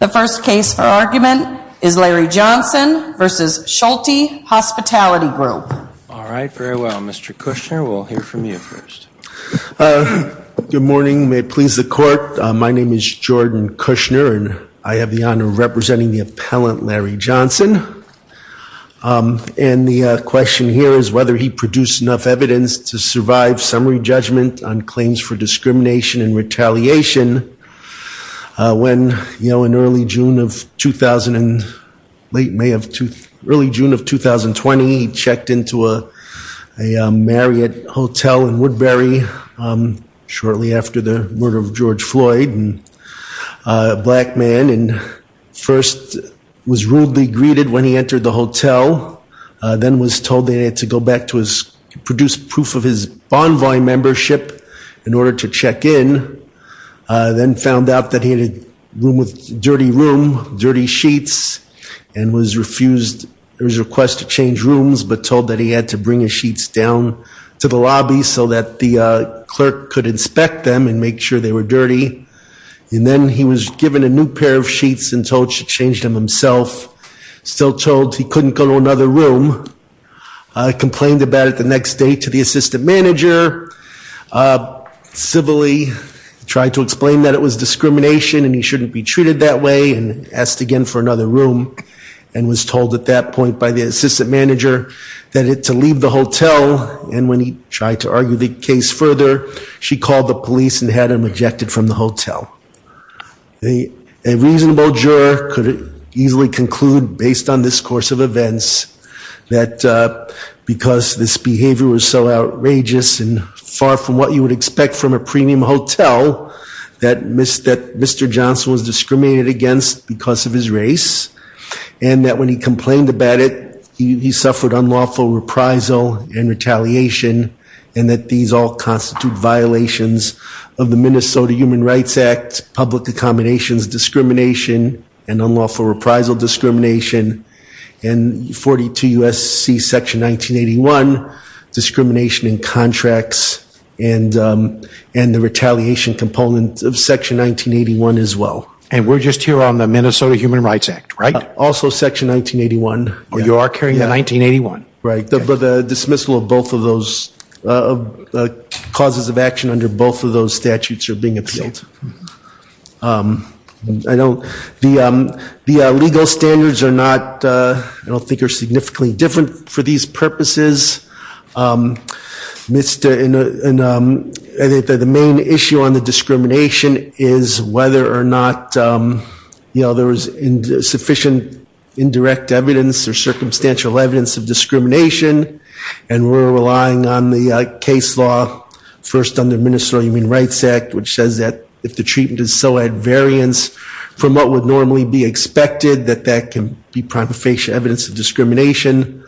The first case for argument is Larry Johnson v. Schulte Hospitality Group. All right, very well. Mr. Kushner, we'll hear from you first. Good morning. May it please the Court. My name is Jordan Kushner, and I have the honor of representing the appellant, Larry Johnson. And the question here is whether he produced enough evidence to survive summary judgment on claims for discrimination and retaliation. When, you know, in early June of 2000 and late May of—early June of 2020, he checked into a Marriott Hotel in Woodbury shortly after the murder of George Floyd, a black man, and first was rudely greeted when he entered the hotel, then was told that he had to go back to his—produce proof of his Bonvoy membership in order to check in, then found out that he had a room with—dirty room, dirty sheets, and was refused his request to change rooms but told that he had to bring his sheets down to the lobby so that the clerk could inspect them and make sure they were dirty. And then he was given a new pair of sheets and told to change them himself, still told he couldn't go to another room, complained about it the next day to the assistant manager, civilly tried to explain that it was discrimination and he shouldn't be treated that way, and asked again for another room, and was told at that point by the assistant manager that to leave the hotel, and when he tried to argue the case further, she called the police and had him ejected from the hotel. A reasonable juror could easily conclude, based on this course of events, that because this behavior was so outrageous and far from what you would expect from a premium hotel, that Mr. Johnson was discriminated against because of his race, and that when he complained about it, he suffered unlawful reprisal and retaliation, and that these all constitute violations of the Minnesota Human Rights Act, public accommodations discrimination, and unlawful reprisal discrimination, and 42 U.S.C. section 1981, discrimination in contracts, and the retaliation component of section 1981 as well. And we're just here on the Minnesota Human Rights Act, right? Also section 1981. Oh, you are carrying the 1981? Right, but the dismissal of both of those causes of action under both of those statutes are being appealed. I don't, the legal standards are not, I don't think are significantly different for these purposes. The main issue on the discrimination is whether or not, you know, there was sufficient indirect evidence or circumstantial evidence of discrimination, and we're relying on the case law, first under Minnesota Human Rights Act, which says that if the treatment is so at variance from what would normally be expected, that that can be prima facie evidence of discrimination.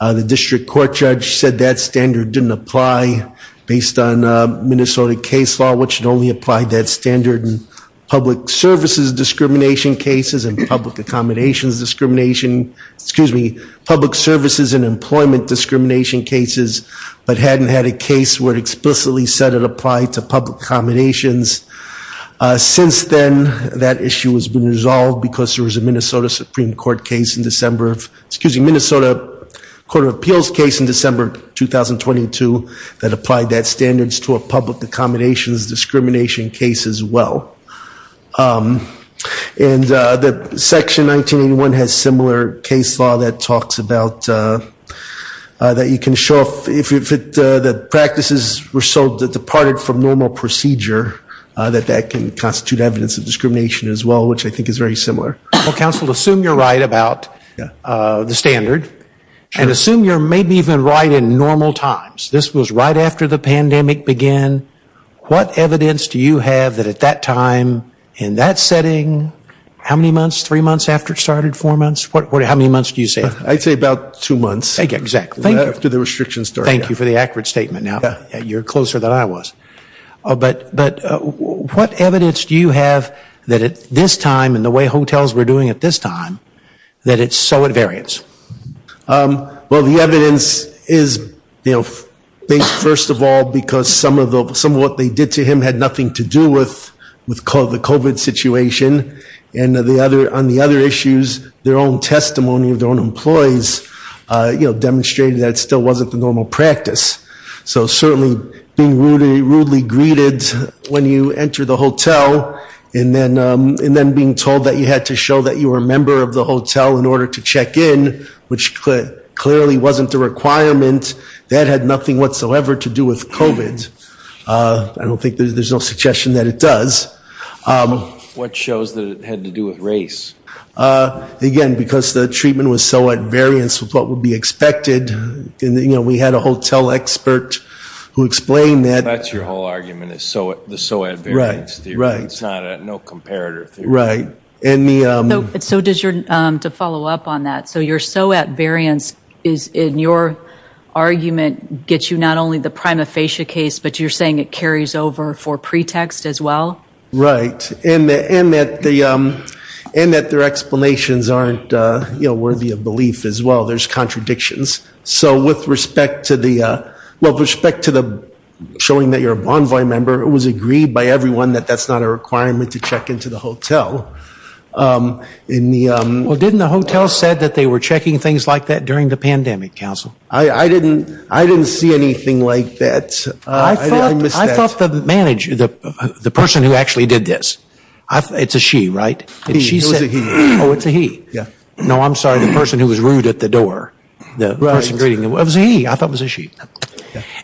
The district court judge said that standard didn't apply based on Minnesota case law, which had only applied that standard in public services discrimination cases and public accommodations discrimination, excuse me, public services and employment discrimination cases, but hadn't had a case where it explicitly said it applied to public accommodations. Since then, that issue has been resolved because there was a Minnesota Supreme Court case in December of, excuse me, Minnesota Court of Appeals case in December of 2022 that applied that standards to a public accommodations discrimination case as well. And the section 1981 has similar case law that talks about that you can show, if the practices were so departed from normal procedure, that that can constitute evidence of discrimination as well, which I think is very similar. Well, counsel, assume you're right about the standard. And assume you're maybe even right in normal times. This was right after the pandemic began. What evidence do you have that at that time, in that setting, how many months, three months after it started, four months? How many months do you say? I'd say about two months. Exactly. After the restrictions started. Thank you for the accurate statement. You're closer than I was. But what evidence do you have that at this time, and the way hotels were doing at this time, that it's so at variance? Well, the evidence is, you know, first of all, because some of what they did to him had nothing to do with the COVID situation. And on the other issues, their own testimony of their own employees, you know, demonstrated that it still wasn't the normal practice. So certainly being rudely greeted when you enter the hotel, and then being told that you had to show that you were a member of the hotel in order to check in, which clearly wasn't the requirement, that had nothing whatsoever to do with COVID. I don't think there's no suggestion that it does. What shows that it had to do with race? Again, because the treatment was so at variance with what would be expected. We had a hotel expert who explained that. That's your whole argument is the so at variance theory. It's not a no comparator theory. Right. So to follow up on that, so your so at variance is in your argument, gets you not only the prima facie case, but you're saying it carries over for pretext as well? Right. And that their explanations aren't worthy of belief as well. There's contradictions. So with respect to the, well, with respect to the showing that you're a Bonvoy member, it was agreed by everyone that that's not a requirement to check into the hotel. Well, didn't the hotel said that they were checking things like that during the pandemic council? I didn't see anything like that. I thought the manager, the person who actually did this, it's a she, right? Oh, it's a he. Yeah. No, I'm sorry. The person who was rude at the door, the person greeting him. It was a he. I thought it was a she.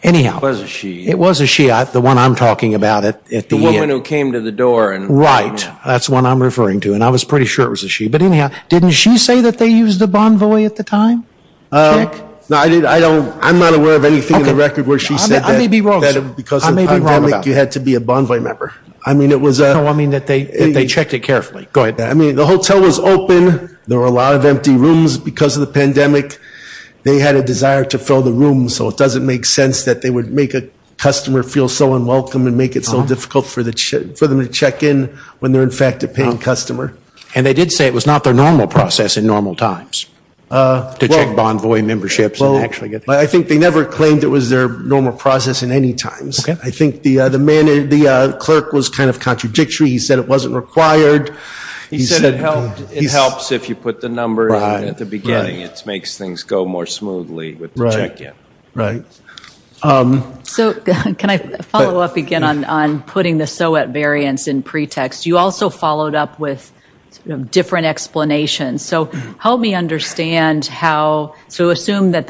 Anyhow. It was a she. It was a she. The one I'm talking about at the end. The woman who came to the door. Right. That's the one I'm referring to. And I was pretty sure it was a she. But anyhow, didn't she say that they used a Bonvoy at the time? No, I did. I don't, I'm not aware of anything in the record where she said that. I may be wrong. Because of the pandemic, you had to be a Bonvoy member. I mean, it was a. No, I mean that they checked it carefully. Go ahead. I mean, the hotel was open. There were a lot of empty rooms because of the pandemic. They had a desire to fill the room. So, it doesn't make sense that they would make a customer feel so unwelcome and make it so difficult for them to check in when they're, in fact, a paying customer. And they did say it was not their normal process in normal times. To check Bonvoy memberships. I think they never claimed it was their normal process in any times. I think the clerk was kind of contradictory. He said it wasn't required. He said it helps if you put the number in at the beginning. It makes things go more smoothly with the check-in. Right. So, can I follow up again on putting the so at variance in pretext? You also followed up with different explanations. So, help me understand how. So, assume that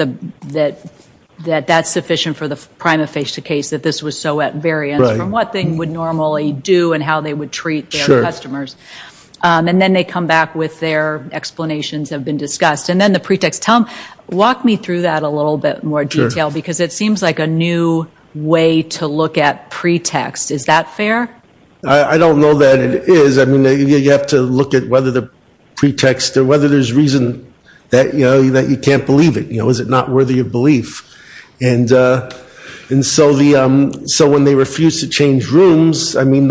that's sufficient for the prima facie case, that this was so at variance. From what they would normally do and how they would treat their customers. And then they come back with their explanations have been discussed. And then the pretext. Tom, walk me through that a little bit more detail. Sure. Because it seems like a new way to look at pretext. Is that fair? I don't know that it is. I mean, you have to look at whether the pretext, or whether there's reason that, you know, that you can't believe it. You know, is it not worthy of belief? And so, when they refused to change rooms, I mean,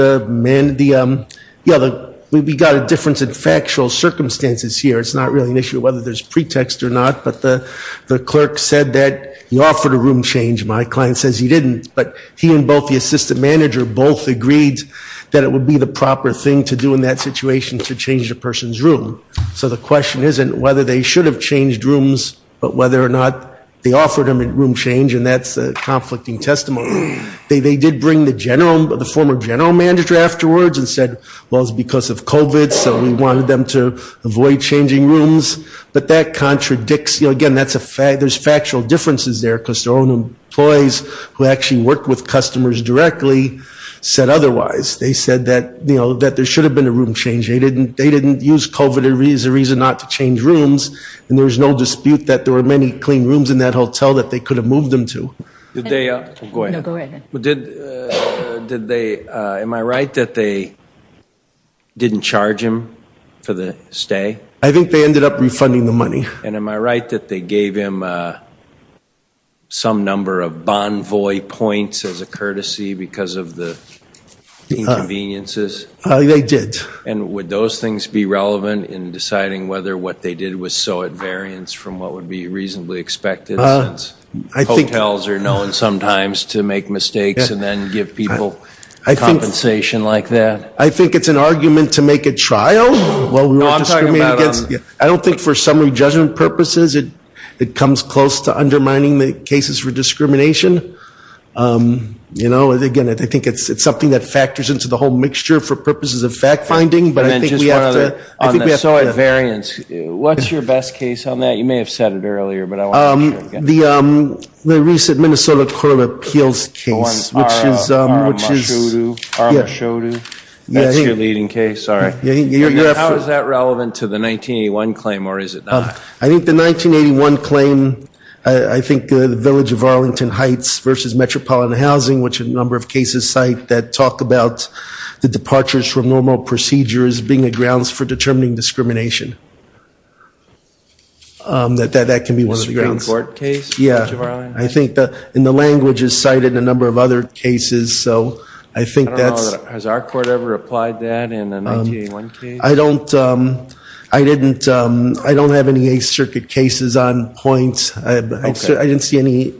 we got a difference in factual circumstances here. It's not really an issue whether there's pretext or not. But the clerk said that he offered a room change. My client says he didn't. But he and both the assistant manager both agreed that it would be the proper thing to do in that situation to change a person's room. So, the question isn't whether they should have changed rooms, but whether or not they offered him a room change. And that's a conflicting testimony. They did bring the former general manager afterwards and said, well, it's because of COVID. So, we wanted them to avoid changing rooms. But that contradicts, you know, again, there's factual differences there. Because their own employees who actually work with customers directly said otherwise. They said that, you know, that there should have been a room change. They didn't use COVID as a reason not to change rooms. And there was no dispute that there were many clean rooms in that hotel that they could have moved them to. Go ahead. No, go ahead. Did they, am I right that they didn't charge him for the stay? I think they ended up refunding the money. And am I right that they gave him some number of Bonvoy points as a courtesy because of the inconveniences? They did. And would those things be relevant in deciding whether what they did was so at variance from what would be reasonably expected since hotels are known sometimes to make mistakes and then give people compensation like that? I think it's an argument to make a trial. No, I'm talking about. I don't think for summary judgment purposes it comes close to undermining the cases for discrimination. You know, again, I think it's something that factors into the whole mixture for purposes of fact finding, but I think we have to. So, at variance, what's your best case on that? You may have said it earlier, but I want to hear it again. The recent Minnesota Court of Appeals case. Which is. That's your leading case? Sorry. How is that relevant to the 1981 claim or is it not? I think the 1981 claim, I think the Village of Arlington Heights versus Metropolitan Housing, which a number of cases cite that talk about the departures from normal procedures being the grounds for determining discrimination. That can be one of the grounds. The ground court case? Yeah. I think in the language is cited in a number of other cases, so I think that's. Has our court ever applied that in a 1981 case? I don't. I didn't. I don't have any Eighth Circuit cases on point. I didn't see any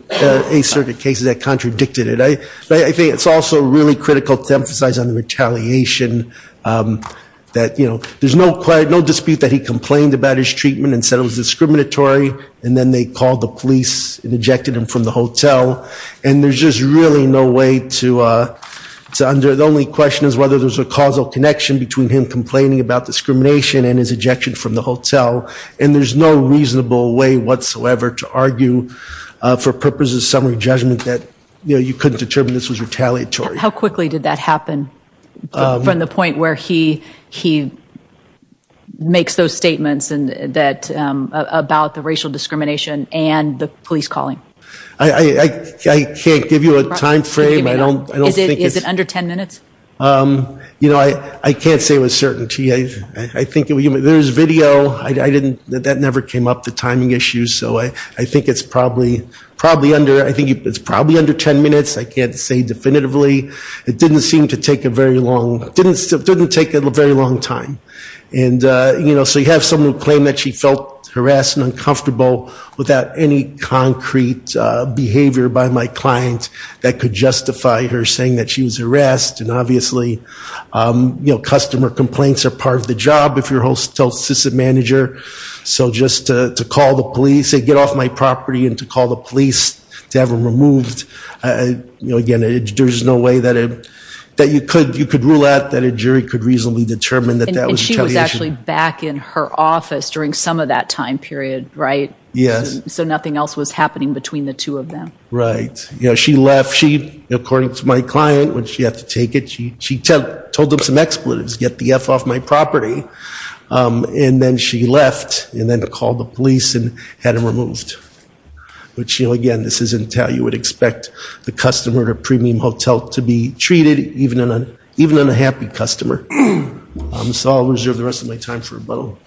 Eighth Circuit cases that contradicted it. I think it's also really critical to emphasize on the retaliation that, you know, there's no dispute that he complained about his treatment and said it was discriminatory. And then they called the police and ejected him from the hotel. And there's just really no way to. The only question is whether there's a causal connection between him complaining about discrimination and his ejection from the hotel. And there's no reasonable way whatsoever to argue for purposes of summary judgment that, you know, you couldn't determine this was retaliatory. How quickly did that happen from the point where he makes those statements about the racial discrimination and the police calling? I can't give you a time frame. Is it under ten minutes? You know, I can't say with certainty. There's video. That never came up, the timing issues. So I think it's probably under ten minutes. I can't say definitively. It didn't seem to take a very long. It didn't take a very long time. And, you know, so you have someone who claimed that she felt harassed and uncomfortable without any concrete behavior by my client that could justify her saying that she was harassed. And obviously, you know, customer complaints are part of the job if you're a hotel assistant manager. So just to call the police and get off my property and to call the police to have him removed, you know, again, there's no way that you could rule out that a jury could reasonably determine that that was retaliation. And she was actually back in her office during some of that time period, right? Yes. So nothing else was happening between the two of them. Right. You know, she left. She, according to my client, when she had to take it, she told them some expletives, get the F off my property. And then she left and then called the police and had him removed. But, you know, again, this isn't how you would expect the customer at a premium hotel to be treated, even on a happy customer. So I'll reserve the rest of my time for rebuttal.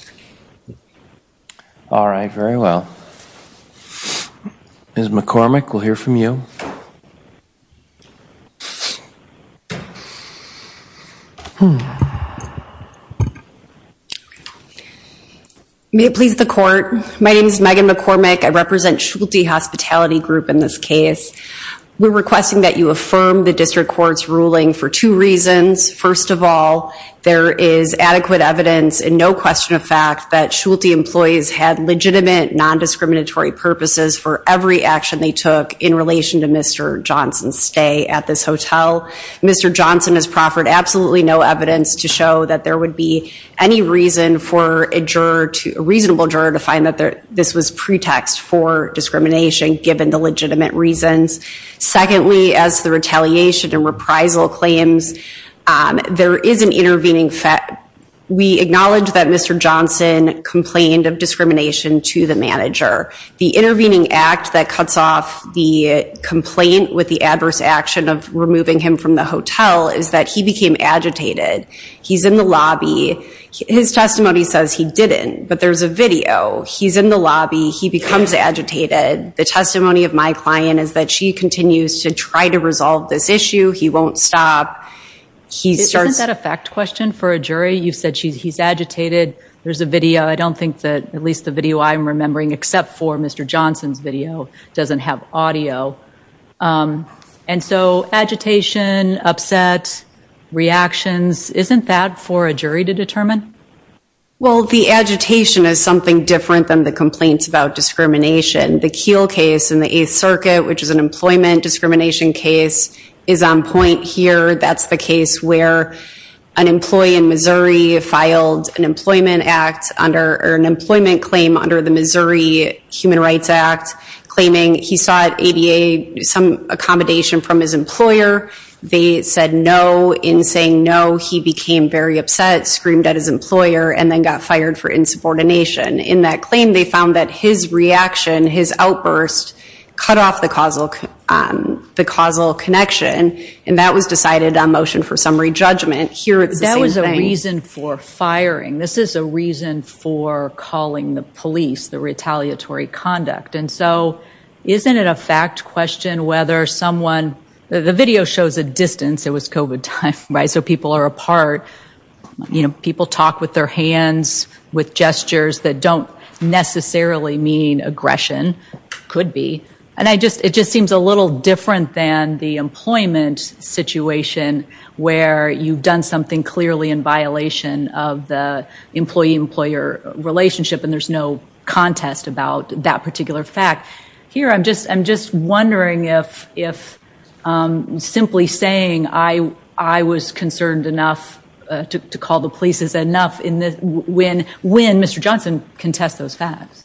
All right. Very well. Ms. McCormick, we'll hear from you. May it please the Court. My name is Megan McCormick. I represent Schulte Hospitality Group in this case. We're requesting that you affirm the district court's ruling for two reasons. First of all, there is adequate evidence and no question of fact that Schulte employees had legitimate nondiscriminatory purposes for every action they took in relation to Mr. Johnson's stay at this hotel. Mr. Johnson has proffered absolutely no evidence to show that there would be any reason for a reasonable juror to find that this was pretext for discrimination given the legitimate reasons. Secondly, as the retaliation and reprisal claims, there is an intervening fact. We acknowledge that Mr. Johnson complained of discrimination to the manager. The intervening act that cuts off the complaint with the adverse action of removing him from the hotel is that he became agitated. He's in the lobby. His testimony says he didn't, but there's a video. He's in the lobby. He becomes agitated. The testimony of my client is that she continues to try to resolve this issue. He won't stop. Isn't that a fact question for a jury? You said he's agitated. There's a video. I don't think that at least the video I'm remembering, except for Mr. Johnson's video, doesn't have audio. And so agitation, upset, reactions, isn't that for a jury to determine? Well, the agitation is something different than the complaints about discrimination. The Keele case in the Eighth Circuit, which is an employment discrimination case, is on point here. That's the case where an employee in Missouri filed an employment claim under the Missouri Human Rights Act, claiming he sought ADA, some accommodation from his employer. They said no. In saying no, he became very upset, screamed at his employer, and then got fired for insubordination. In that claim, they found that his reaction, his outburst, cut off the causal connection, and that was decided on motion for summary judgment. Here, it's the same thing. That was a reason for firing. This is a reason for calling the police the retaliatory conduct. And so isn't it a fact question whether someone – the video shows a distance. It was COVID time, right? So people are apart. People talk with their hands, with gestures that don't necessarily mean aggression. Could be. And it just seems a little different than the employment situation, where you've done something clearly in violation of the employee-employer relationship, and there's no contest about that particular fact. Here, I'm just wondering if simply saying, I was concerned enough to call the police is enough, when Mr. Johnson can test those facts.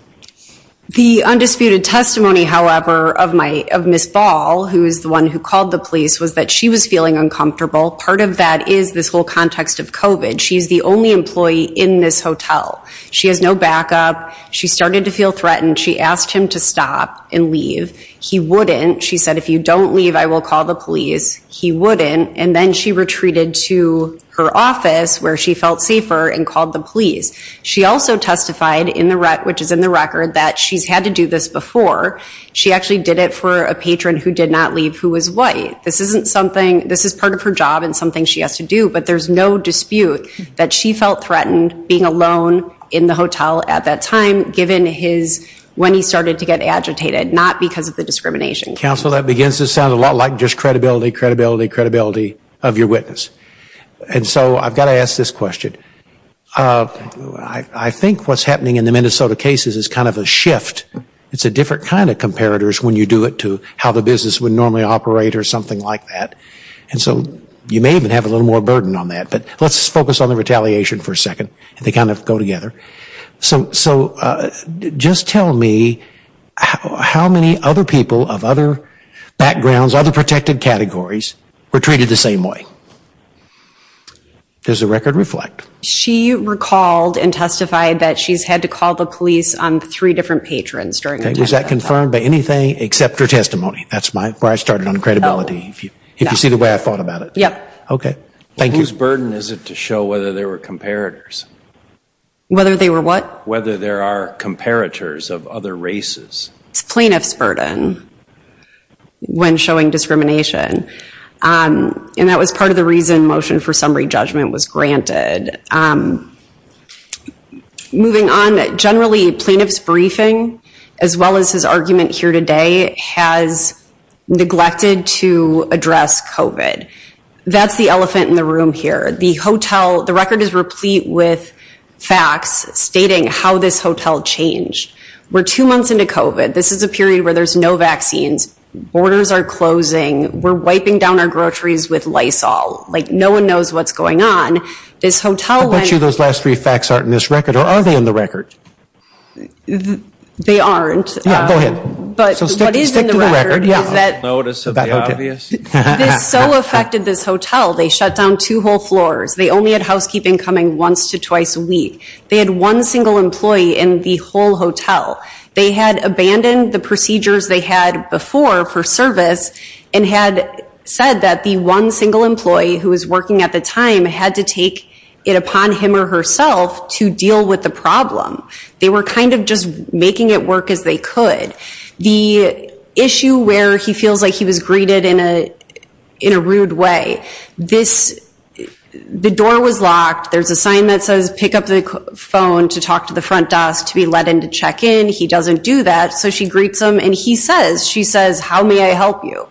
The undisputed testimony, however, of Ms. Ball, who is the one who called the police, was that she was feeling uncomfortable. Part of that is this whole context of COVID. She's the only employee in this hotel. She has no backup. She started to feel threatened. She asked him to stop and leave. He wouldn't. She said, if you don't leave, I will call the police. He wouldn't. And then she retreated to her office, where she felt safer, and called the police. She also testified, which is in the record, that she's had to do this before. She actually did it for a patron who did not leave who was white. This isn't something, this is part of her job and something she has to do, but there's no dispute that she felt threatened being alone in the hotel at that time, given his, when he started to get agitated, not because of the discrimination. Counsel, that begins to sound a lot like just credibility, credibility, credibility of your witness. And so I've got to ask this question. I think what's happening in the Minnesota cases is kind of a shift. It's a different kind of comparators when you do it to how the business would normally operate or something like that. And so you may even have a little more burden on that. But let's focus on the retaliation for a second. They kind of go together. So just tell me how many other people of other backgrounds, other protected categories, were treated the same way? Does the record reflect? She recalled and testified that she's had to call the police on three different patrons. Was that confirmed by anything except her testimony? That's where I started on credibility, if you see the way I thought about it. Yep. Okay. Thank you. Whose burden is it to show whether there were comparators? Whether they were what? Whether there are comparators of other races. It's plaintiff's burden when showing discrimination. And that was part of the reason motion for summary judgment was granted. Moving on, generally plaintiff's briefing, as well as his argument here today, has neglected to address COVID. That's the elephant in the room here. The hotel, the record is replete with facts stating how this hotel changed. We're two months into COVID. This is a period where there's no vaccines. Borders are closing. We're wiping down our groceries with Lysol. Like no one knows what's going on. This hotel went. I bet you those last three facts aren't in this record. Or are they in the record? They aren't. Yeah, go ahead. But what is in the record is that. Stick to the record, yeah. Notice of the obvious. This so affected this hotel, they shut down two whole floors. They only had housekeeping coming once to twice a week. They had one single employee in the whole hotel. They had abandoned the procedures they had before for service and had said that the one single employee who was working at the time had to take it upon him or herself to deal with the problem. They were kind of just making it work as they could. The issue where he feels like he was greeted in a rude way. The door was locked. There's a sign that says pick up the phone to talk to the front desk to be let in to check in. He doesn't do that. So she greets him and he says, she says, how may I help you?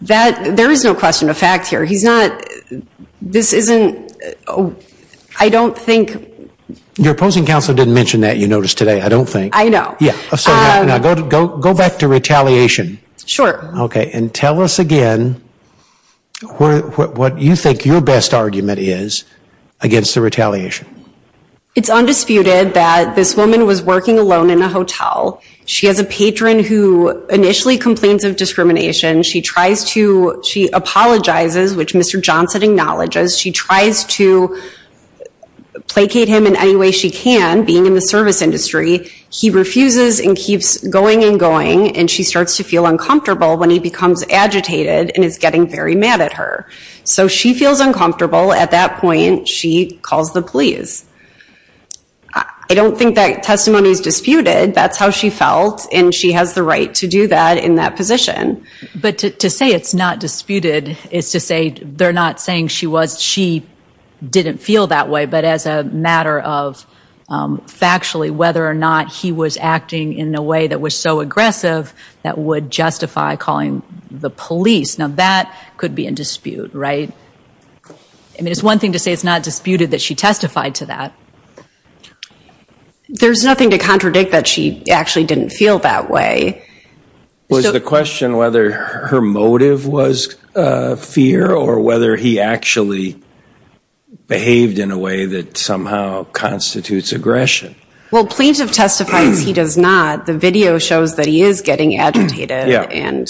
There is no question of fact here. He's not, this isn't, I don't think. Your opposing counsel didn't mention that you noticed today, I don't think. I know. Go back to retaliation. Sure. Okay, and tell us again what you think your best argument is against the retaliation. It's undisputed that this woman was working alone in a hotel. She has a patron who initially complains of discrimination. She tries to, she apologizes, which Mr. Johnson acknowledges. She tries to placate him in any way she can, being in the service industry. He refuses and keeps going and going, and she starts to feel uncomfortable when he becomes agitated and is getting very mad at her. So she feels uncomfortable. At that point, she calls the police. I don't think that testimony is disputed. That's how she felt, and she has the right to do that in that position. But to say it's not disputed is to say they're not saying she didn't feel that way, but as a matter of factually whether or not he was acting in a way that was so aggressive that would justify calling the police. Now, that could be in dispute, right? I mean, it's one thing to say it's not disputed that she testified to that. There's nothing to contradict that she actually didn't feel that way. Was the question whether her motive was fear or whether he actually behaved in a way that somehow constitutes aggression? Well, plaintiff testifies he does not. The video shows that he is getting agitated and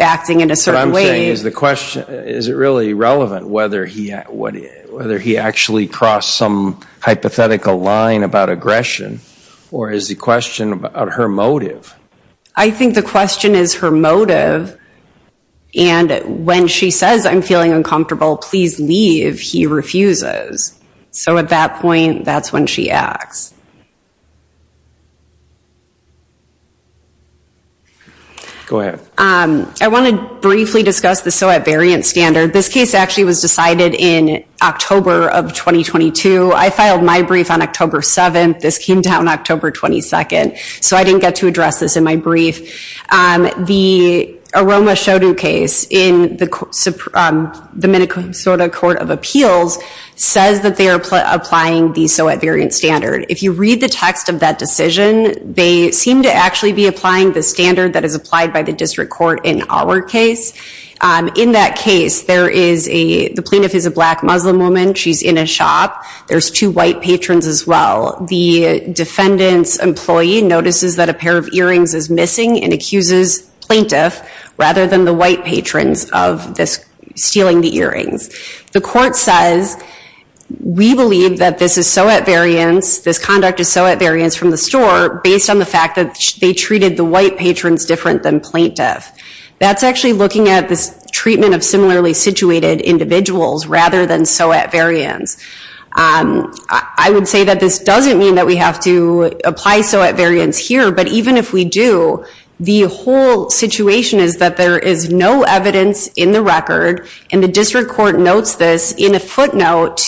acting in a certain way. Is it really relevant whether he actually crossed some hypothetical line about aggression or is the question about her motive? I think the question is her motive, and when she says, I'm feeling uncomfortable, please leave, he refuses. So at that point, that's when she acts. Go ahead. I want to briefly discuss the SOET variant standard. This case actually was decided in October of 2022. I filed my brief on October 7th. This came down October 22nd, so I didn't get to address this in my brief. The Aroma Shodu case in the Minnesota Court of Appeals says that they are applying the SOET variant standard. If you read the text of that decision, they seem to actually be applying the standard that is applied by the district court in our case. In that case, the plaintiff is a black Muslim woman. She's in a shop. There's two white patrons as well. The defendant's employee notices that a pair of earrings is missing and accuses plaintiff rather than the white patrons of stealing the earrings. The court says, we believe that this SOET variant, this conduct is SOET variants from the store, based on the fact that they treated the white patrons different than plaintiff. That's actually looking at this treatment of similarly situated individuals rather than SOET variants. I would say that this doesn't mean that we have to apply SOET variants here, but even if we do, the whole situation is that there is no evidence in the record, and the district court notes this in a footnote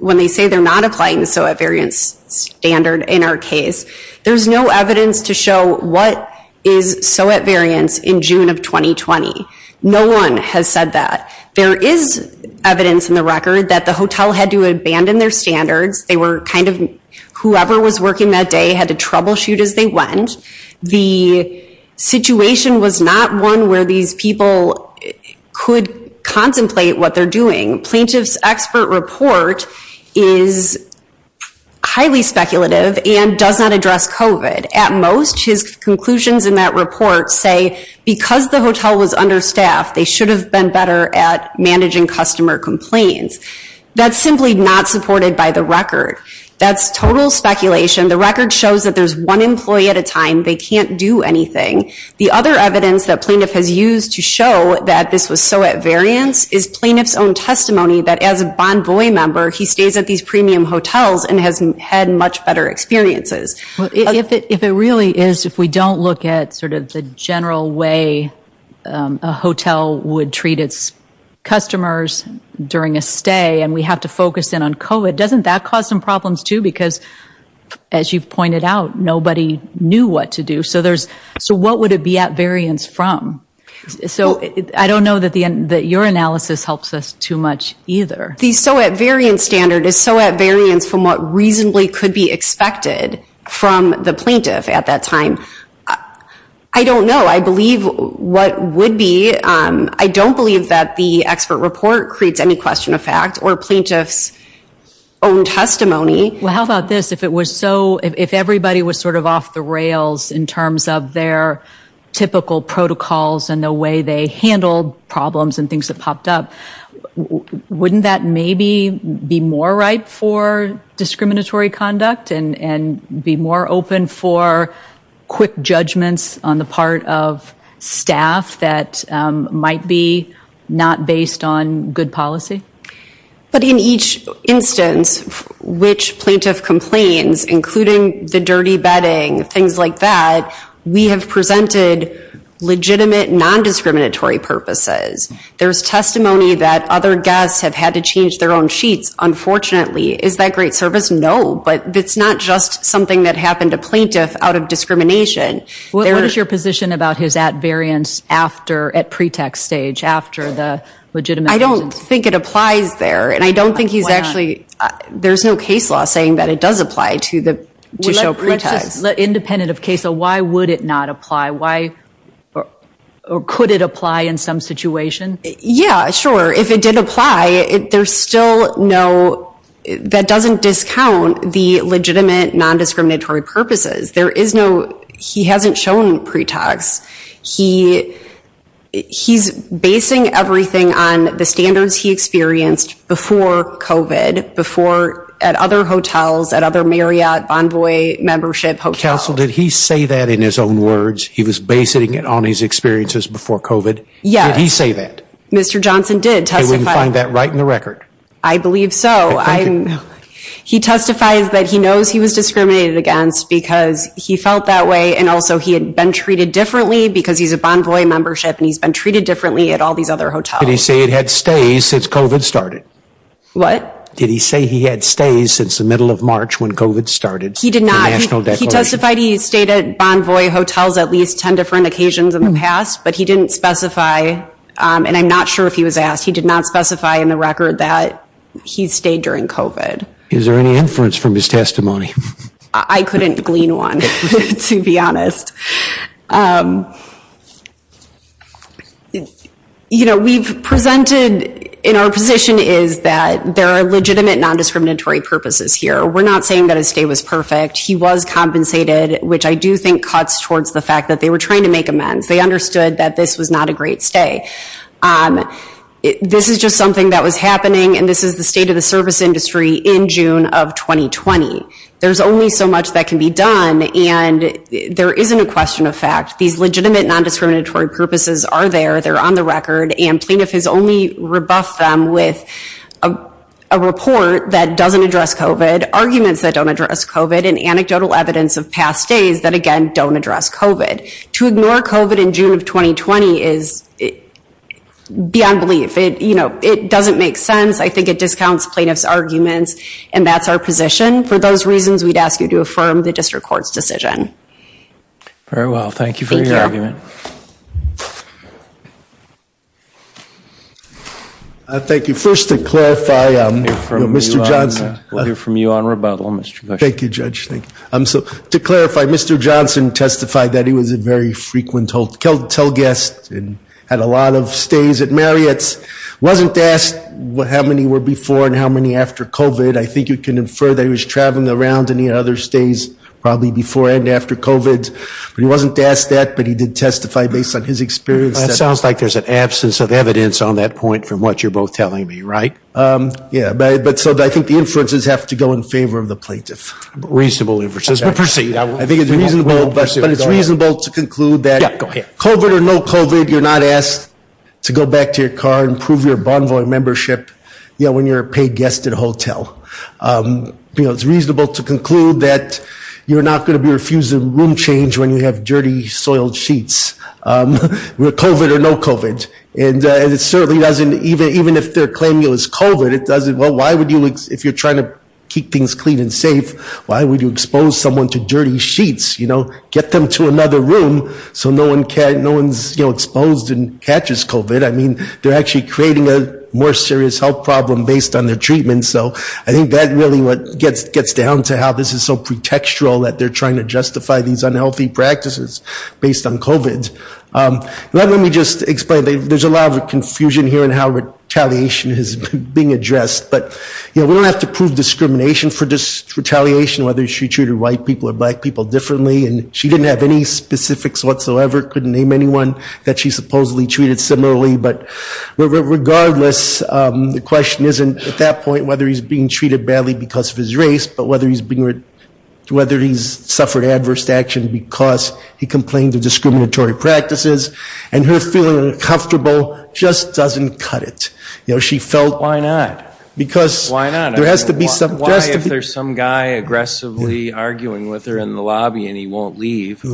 when they say they're not applying the SOET variants standard in our case. There's no evidence to show what is SOET variants in June of 2020. No one has said that. There is evidence in the record that the hotel had to abandon their standards. They were kind of whoever was working that day had to troubleshoot as they went. The situation was not one where these people could contemplate what they're doing. Plaintiff's expert report is highly speculative and does not address COVID. At most, his conclusions in that report say because the hotel was understaffed, they should have been better at managing customer complaints. That's simply not supported by the record. That's total speculation. The record shows that there's one employee at a time. They can't do anything. The other evidence that plaintiff has used to show that this was SOET variants is plaintiff's own testimony that as a Bonvoy member, he stays at these premium hotels and has had much better experiences. If it really is, if we don't look at sort of the general way a hotel would treat its customers during a stay and we have to focus in on COVID, doesn't that cause some problems too? Because as you've pointed out, nobody knew what to do. So what would it be at variants from? So I don't know that your analysis helps us too much either. The SOET variant standard is SOET variants from what reasonably could be expected from the plaintiff at that time. I don't know. I believe what would be, I don't believe that the expert report creates any question of fact or plaintiff's own testimony. Well, how about this? If it was so, if everybody was sort of off the rails in terms of their typical protocols and the way they handled problems and things that popped up, wouldn't that maybe be more ripe for discriminatory conduct and be more open for quick judgments on the part of staff that might be not based on good policy? But in each instance, which plaintiff complains, including the dirty bedding, things like that, we have presented legitimate non-discriminatory purposes. There's testimony that other guests have had to change their own sheets, unfortunately. Is that great service? No. But it's not just something that happened to plaintiff out of discrimination. What is your position about his at variants after, at pretext stage, after the legitimate reasons? I don't think it applies there, and I don't think he's actually, there's no case law saying that it does apply to show pretext. Independent of case law, why would it not apply? Why, or could it apply in some situation? Yeah, sure. If it did apply, there's still no, that doesn't discount the legitimate non-discriminatory purposes. There is no, he hasn't shown pretext. He, he's basing everything on the standards he experienced before COVID, before at other hotels, at other Marriott, Bonvoy membership hotels. Counsel, did he say that in his own words? He was basing it on his experiences before COVID. Yeah. Did he say that? Mr. Johnson did testify. And would you find that right in the record? I believe so. Thank you. He testifies that he knows he was discriminated against because he felt that way, and also he had been treated differently because he's a Bonvoy membership, and he's been treated differently at all these other hotels. Did he say he had stays since COVID started? What? Did he say he had stays since the middle of March when COVID started? He did not. He testified he stayed at Bonvoy hotels at least 10 different occasions in the past, but he didn't specify, and I'm not sure if he was asked, he did not specify in the record that he stayed during COVID. Is there any inference from his testimony? I couldn't glean one, to be honest. You know, we've presented in our position is that there are legitimate nondiscriminatory purposes here. We're not saying that his stay was perfect. He was compensated, which I do think cuts towards the fact that they were trying to make amends. They understood that this was not a great stay. This is just something that was happening, and this is the state of the service industry in June of 2020. There's only so much that can be done, and there isn't a question of fact. These legitimate nondiscriminatory purposes are there. They're on the record, and Plaintiff has only rebuffed them with a report that doesn't address COVID, arguments that don't address COVID, and anecdotal evidence of past days that, again, don't address COVID. To ignore COVID in June of 2020 is beyond belief. It doesn't make sense. I think it discounts Plaintiff's arguments, and that's our position. For those reasons, we'd ask you to affirm the district court's decision. Very well. Thank you for your argument. Thank you. Thank you. First, to clarify, Mr. Johnson. We'll hear from you on rebuttal, Mr. Gush. Thank you, Judge. To clarify, Mr. Johnson testified that he was a very frequent hotel guest and had a lot of stays at Marriott's. Wasn't asked how many were before and how many after COVID. I think you can infer that he was traveling around in the other stays, probably before and after COVID. But he wasn't asked that, but he did testify based on his experience. That sounds like there's an absence of evidence on that point from what you're both telling me, right? Yeah. But so I think the inferences have to go in favor of the Plaintiff. Reasonable inferences. We'll proceed. I think it's reasonable, but it's reasonable to conclude that COVID or no COVID, you're not asked to go back to your car and prove your Bonvoy membership when you're a paid guest at a hotel. It's reasonable to conclude that you're not going to be refusing room change when you have dirty, soiled sheets. With COVID or no COVID. And it certainly doesn't, even if they're claiming it was COVID, it doesn't, well, why would you, if you're trying to keep things clean and safe, why would you expose someone to dirty sheets? Get them to another room so no one's exposed and catches COVID. I mean, they're actually creating a more serious health problem based on their treatment. So I think that really what gets down to how this is so pretextual that they're trying to justify these unhealthy practices based on COVID. Let me just explain. There's a lot of confusion here in how retaliation is being addressed. But we don't have to prove discrimination for retaliation, whether she treated white people or black people differently. And she didn't have any specifics whatsoever, couldn't name anyone that she supposedly treated similarly. But regardless, the question isn't, at that point, whether he's being treated badly because of his race, but whether he's suffered adverse action because he complained of discriminatory practices. And her feeling uncomfortable just doesn't cut it. You know, she felt. Why not? Because. Why not? Why if there's some guy aggressively arguing with her in the lobby and he won't leave?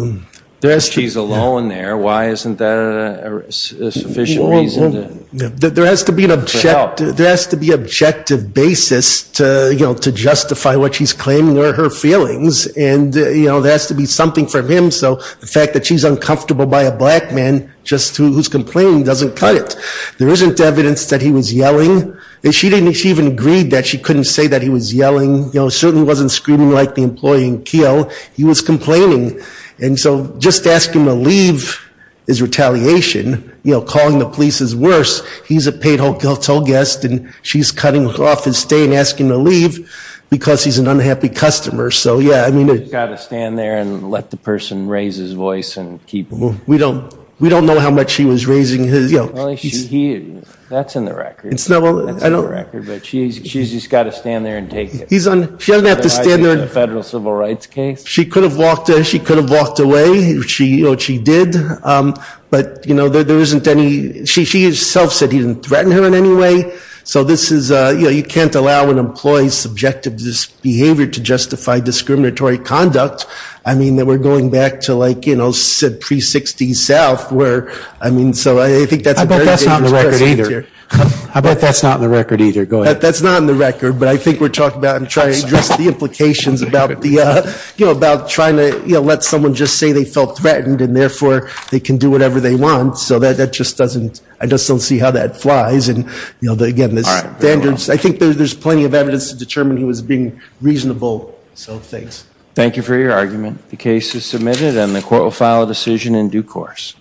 She's alone there. Why isn't that a sufficient reason? There has to be an objective. There has to be an objective basis to, you know, to justify what she's claiming are her feelings. And, you know, there has to be something from him. So the fact that she's uncomfortable by a black man just who's complaining doesn't cut it. There isn't evidence that he was yelling. And she didn't even agree that she couldn't say that he was yelling. You know, certainly wasn't screaming like the employee in Keogh. He was complaining. And so just asking him to leave is retaliation. You know, calling the police is worse. He's a paid hotel guest and she's cutting off his stay and asking him to leave because he's an unhappy customer. So, yeah, I mean. You've got to stand there and let the person raise his voice and keep. We don't know how much he was raising his. That's in the record. She's just got to stand there and take it. She doesn't have to stand there. Federal civil rights case. She could have walked away. She did. But, you know, there isn't any. She herself said he didn't threaten her in any way. So this is, you know, you can't allow an employee's subjective behavior to justify discriminatory conduct. I mean, we're going back to, like, you know, pre-60s South where, I mean, so I think that's. That's not in the record either. I bet that's not in the record either. Go ahead. That's not in the record, but I think we're talking about and trying to address the implications about the, you know, about trying to, you know, let someone just say they felt threatened and therefore they can do whatever they want. So that that just doesn't, I just don't see how that flies. And, you know, the, again, the standards, I think there's plenty of evidence to determine he was being reasonable. So thanks. Thank you for your argument. The case is submitted and the court will file a decision in due course.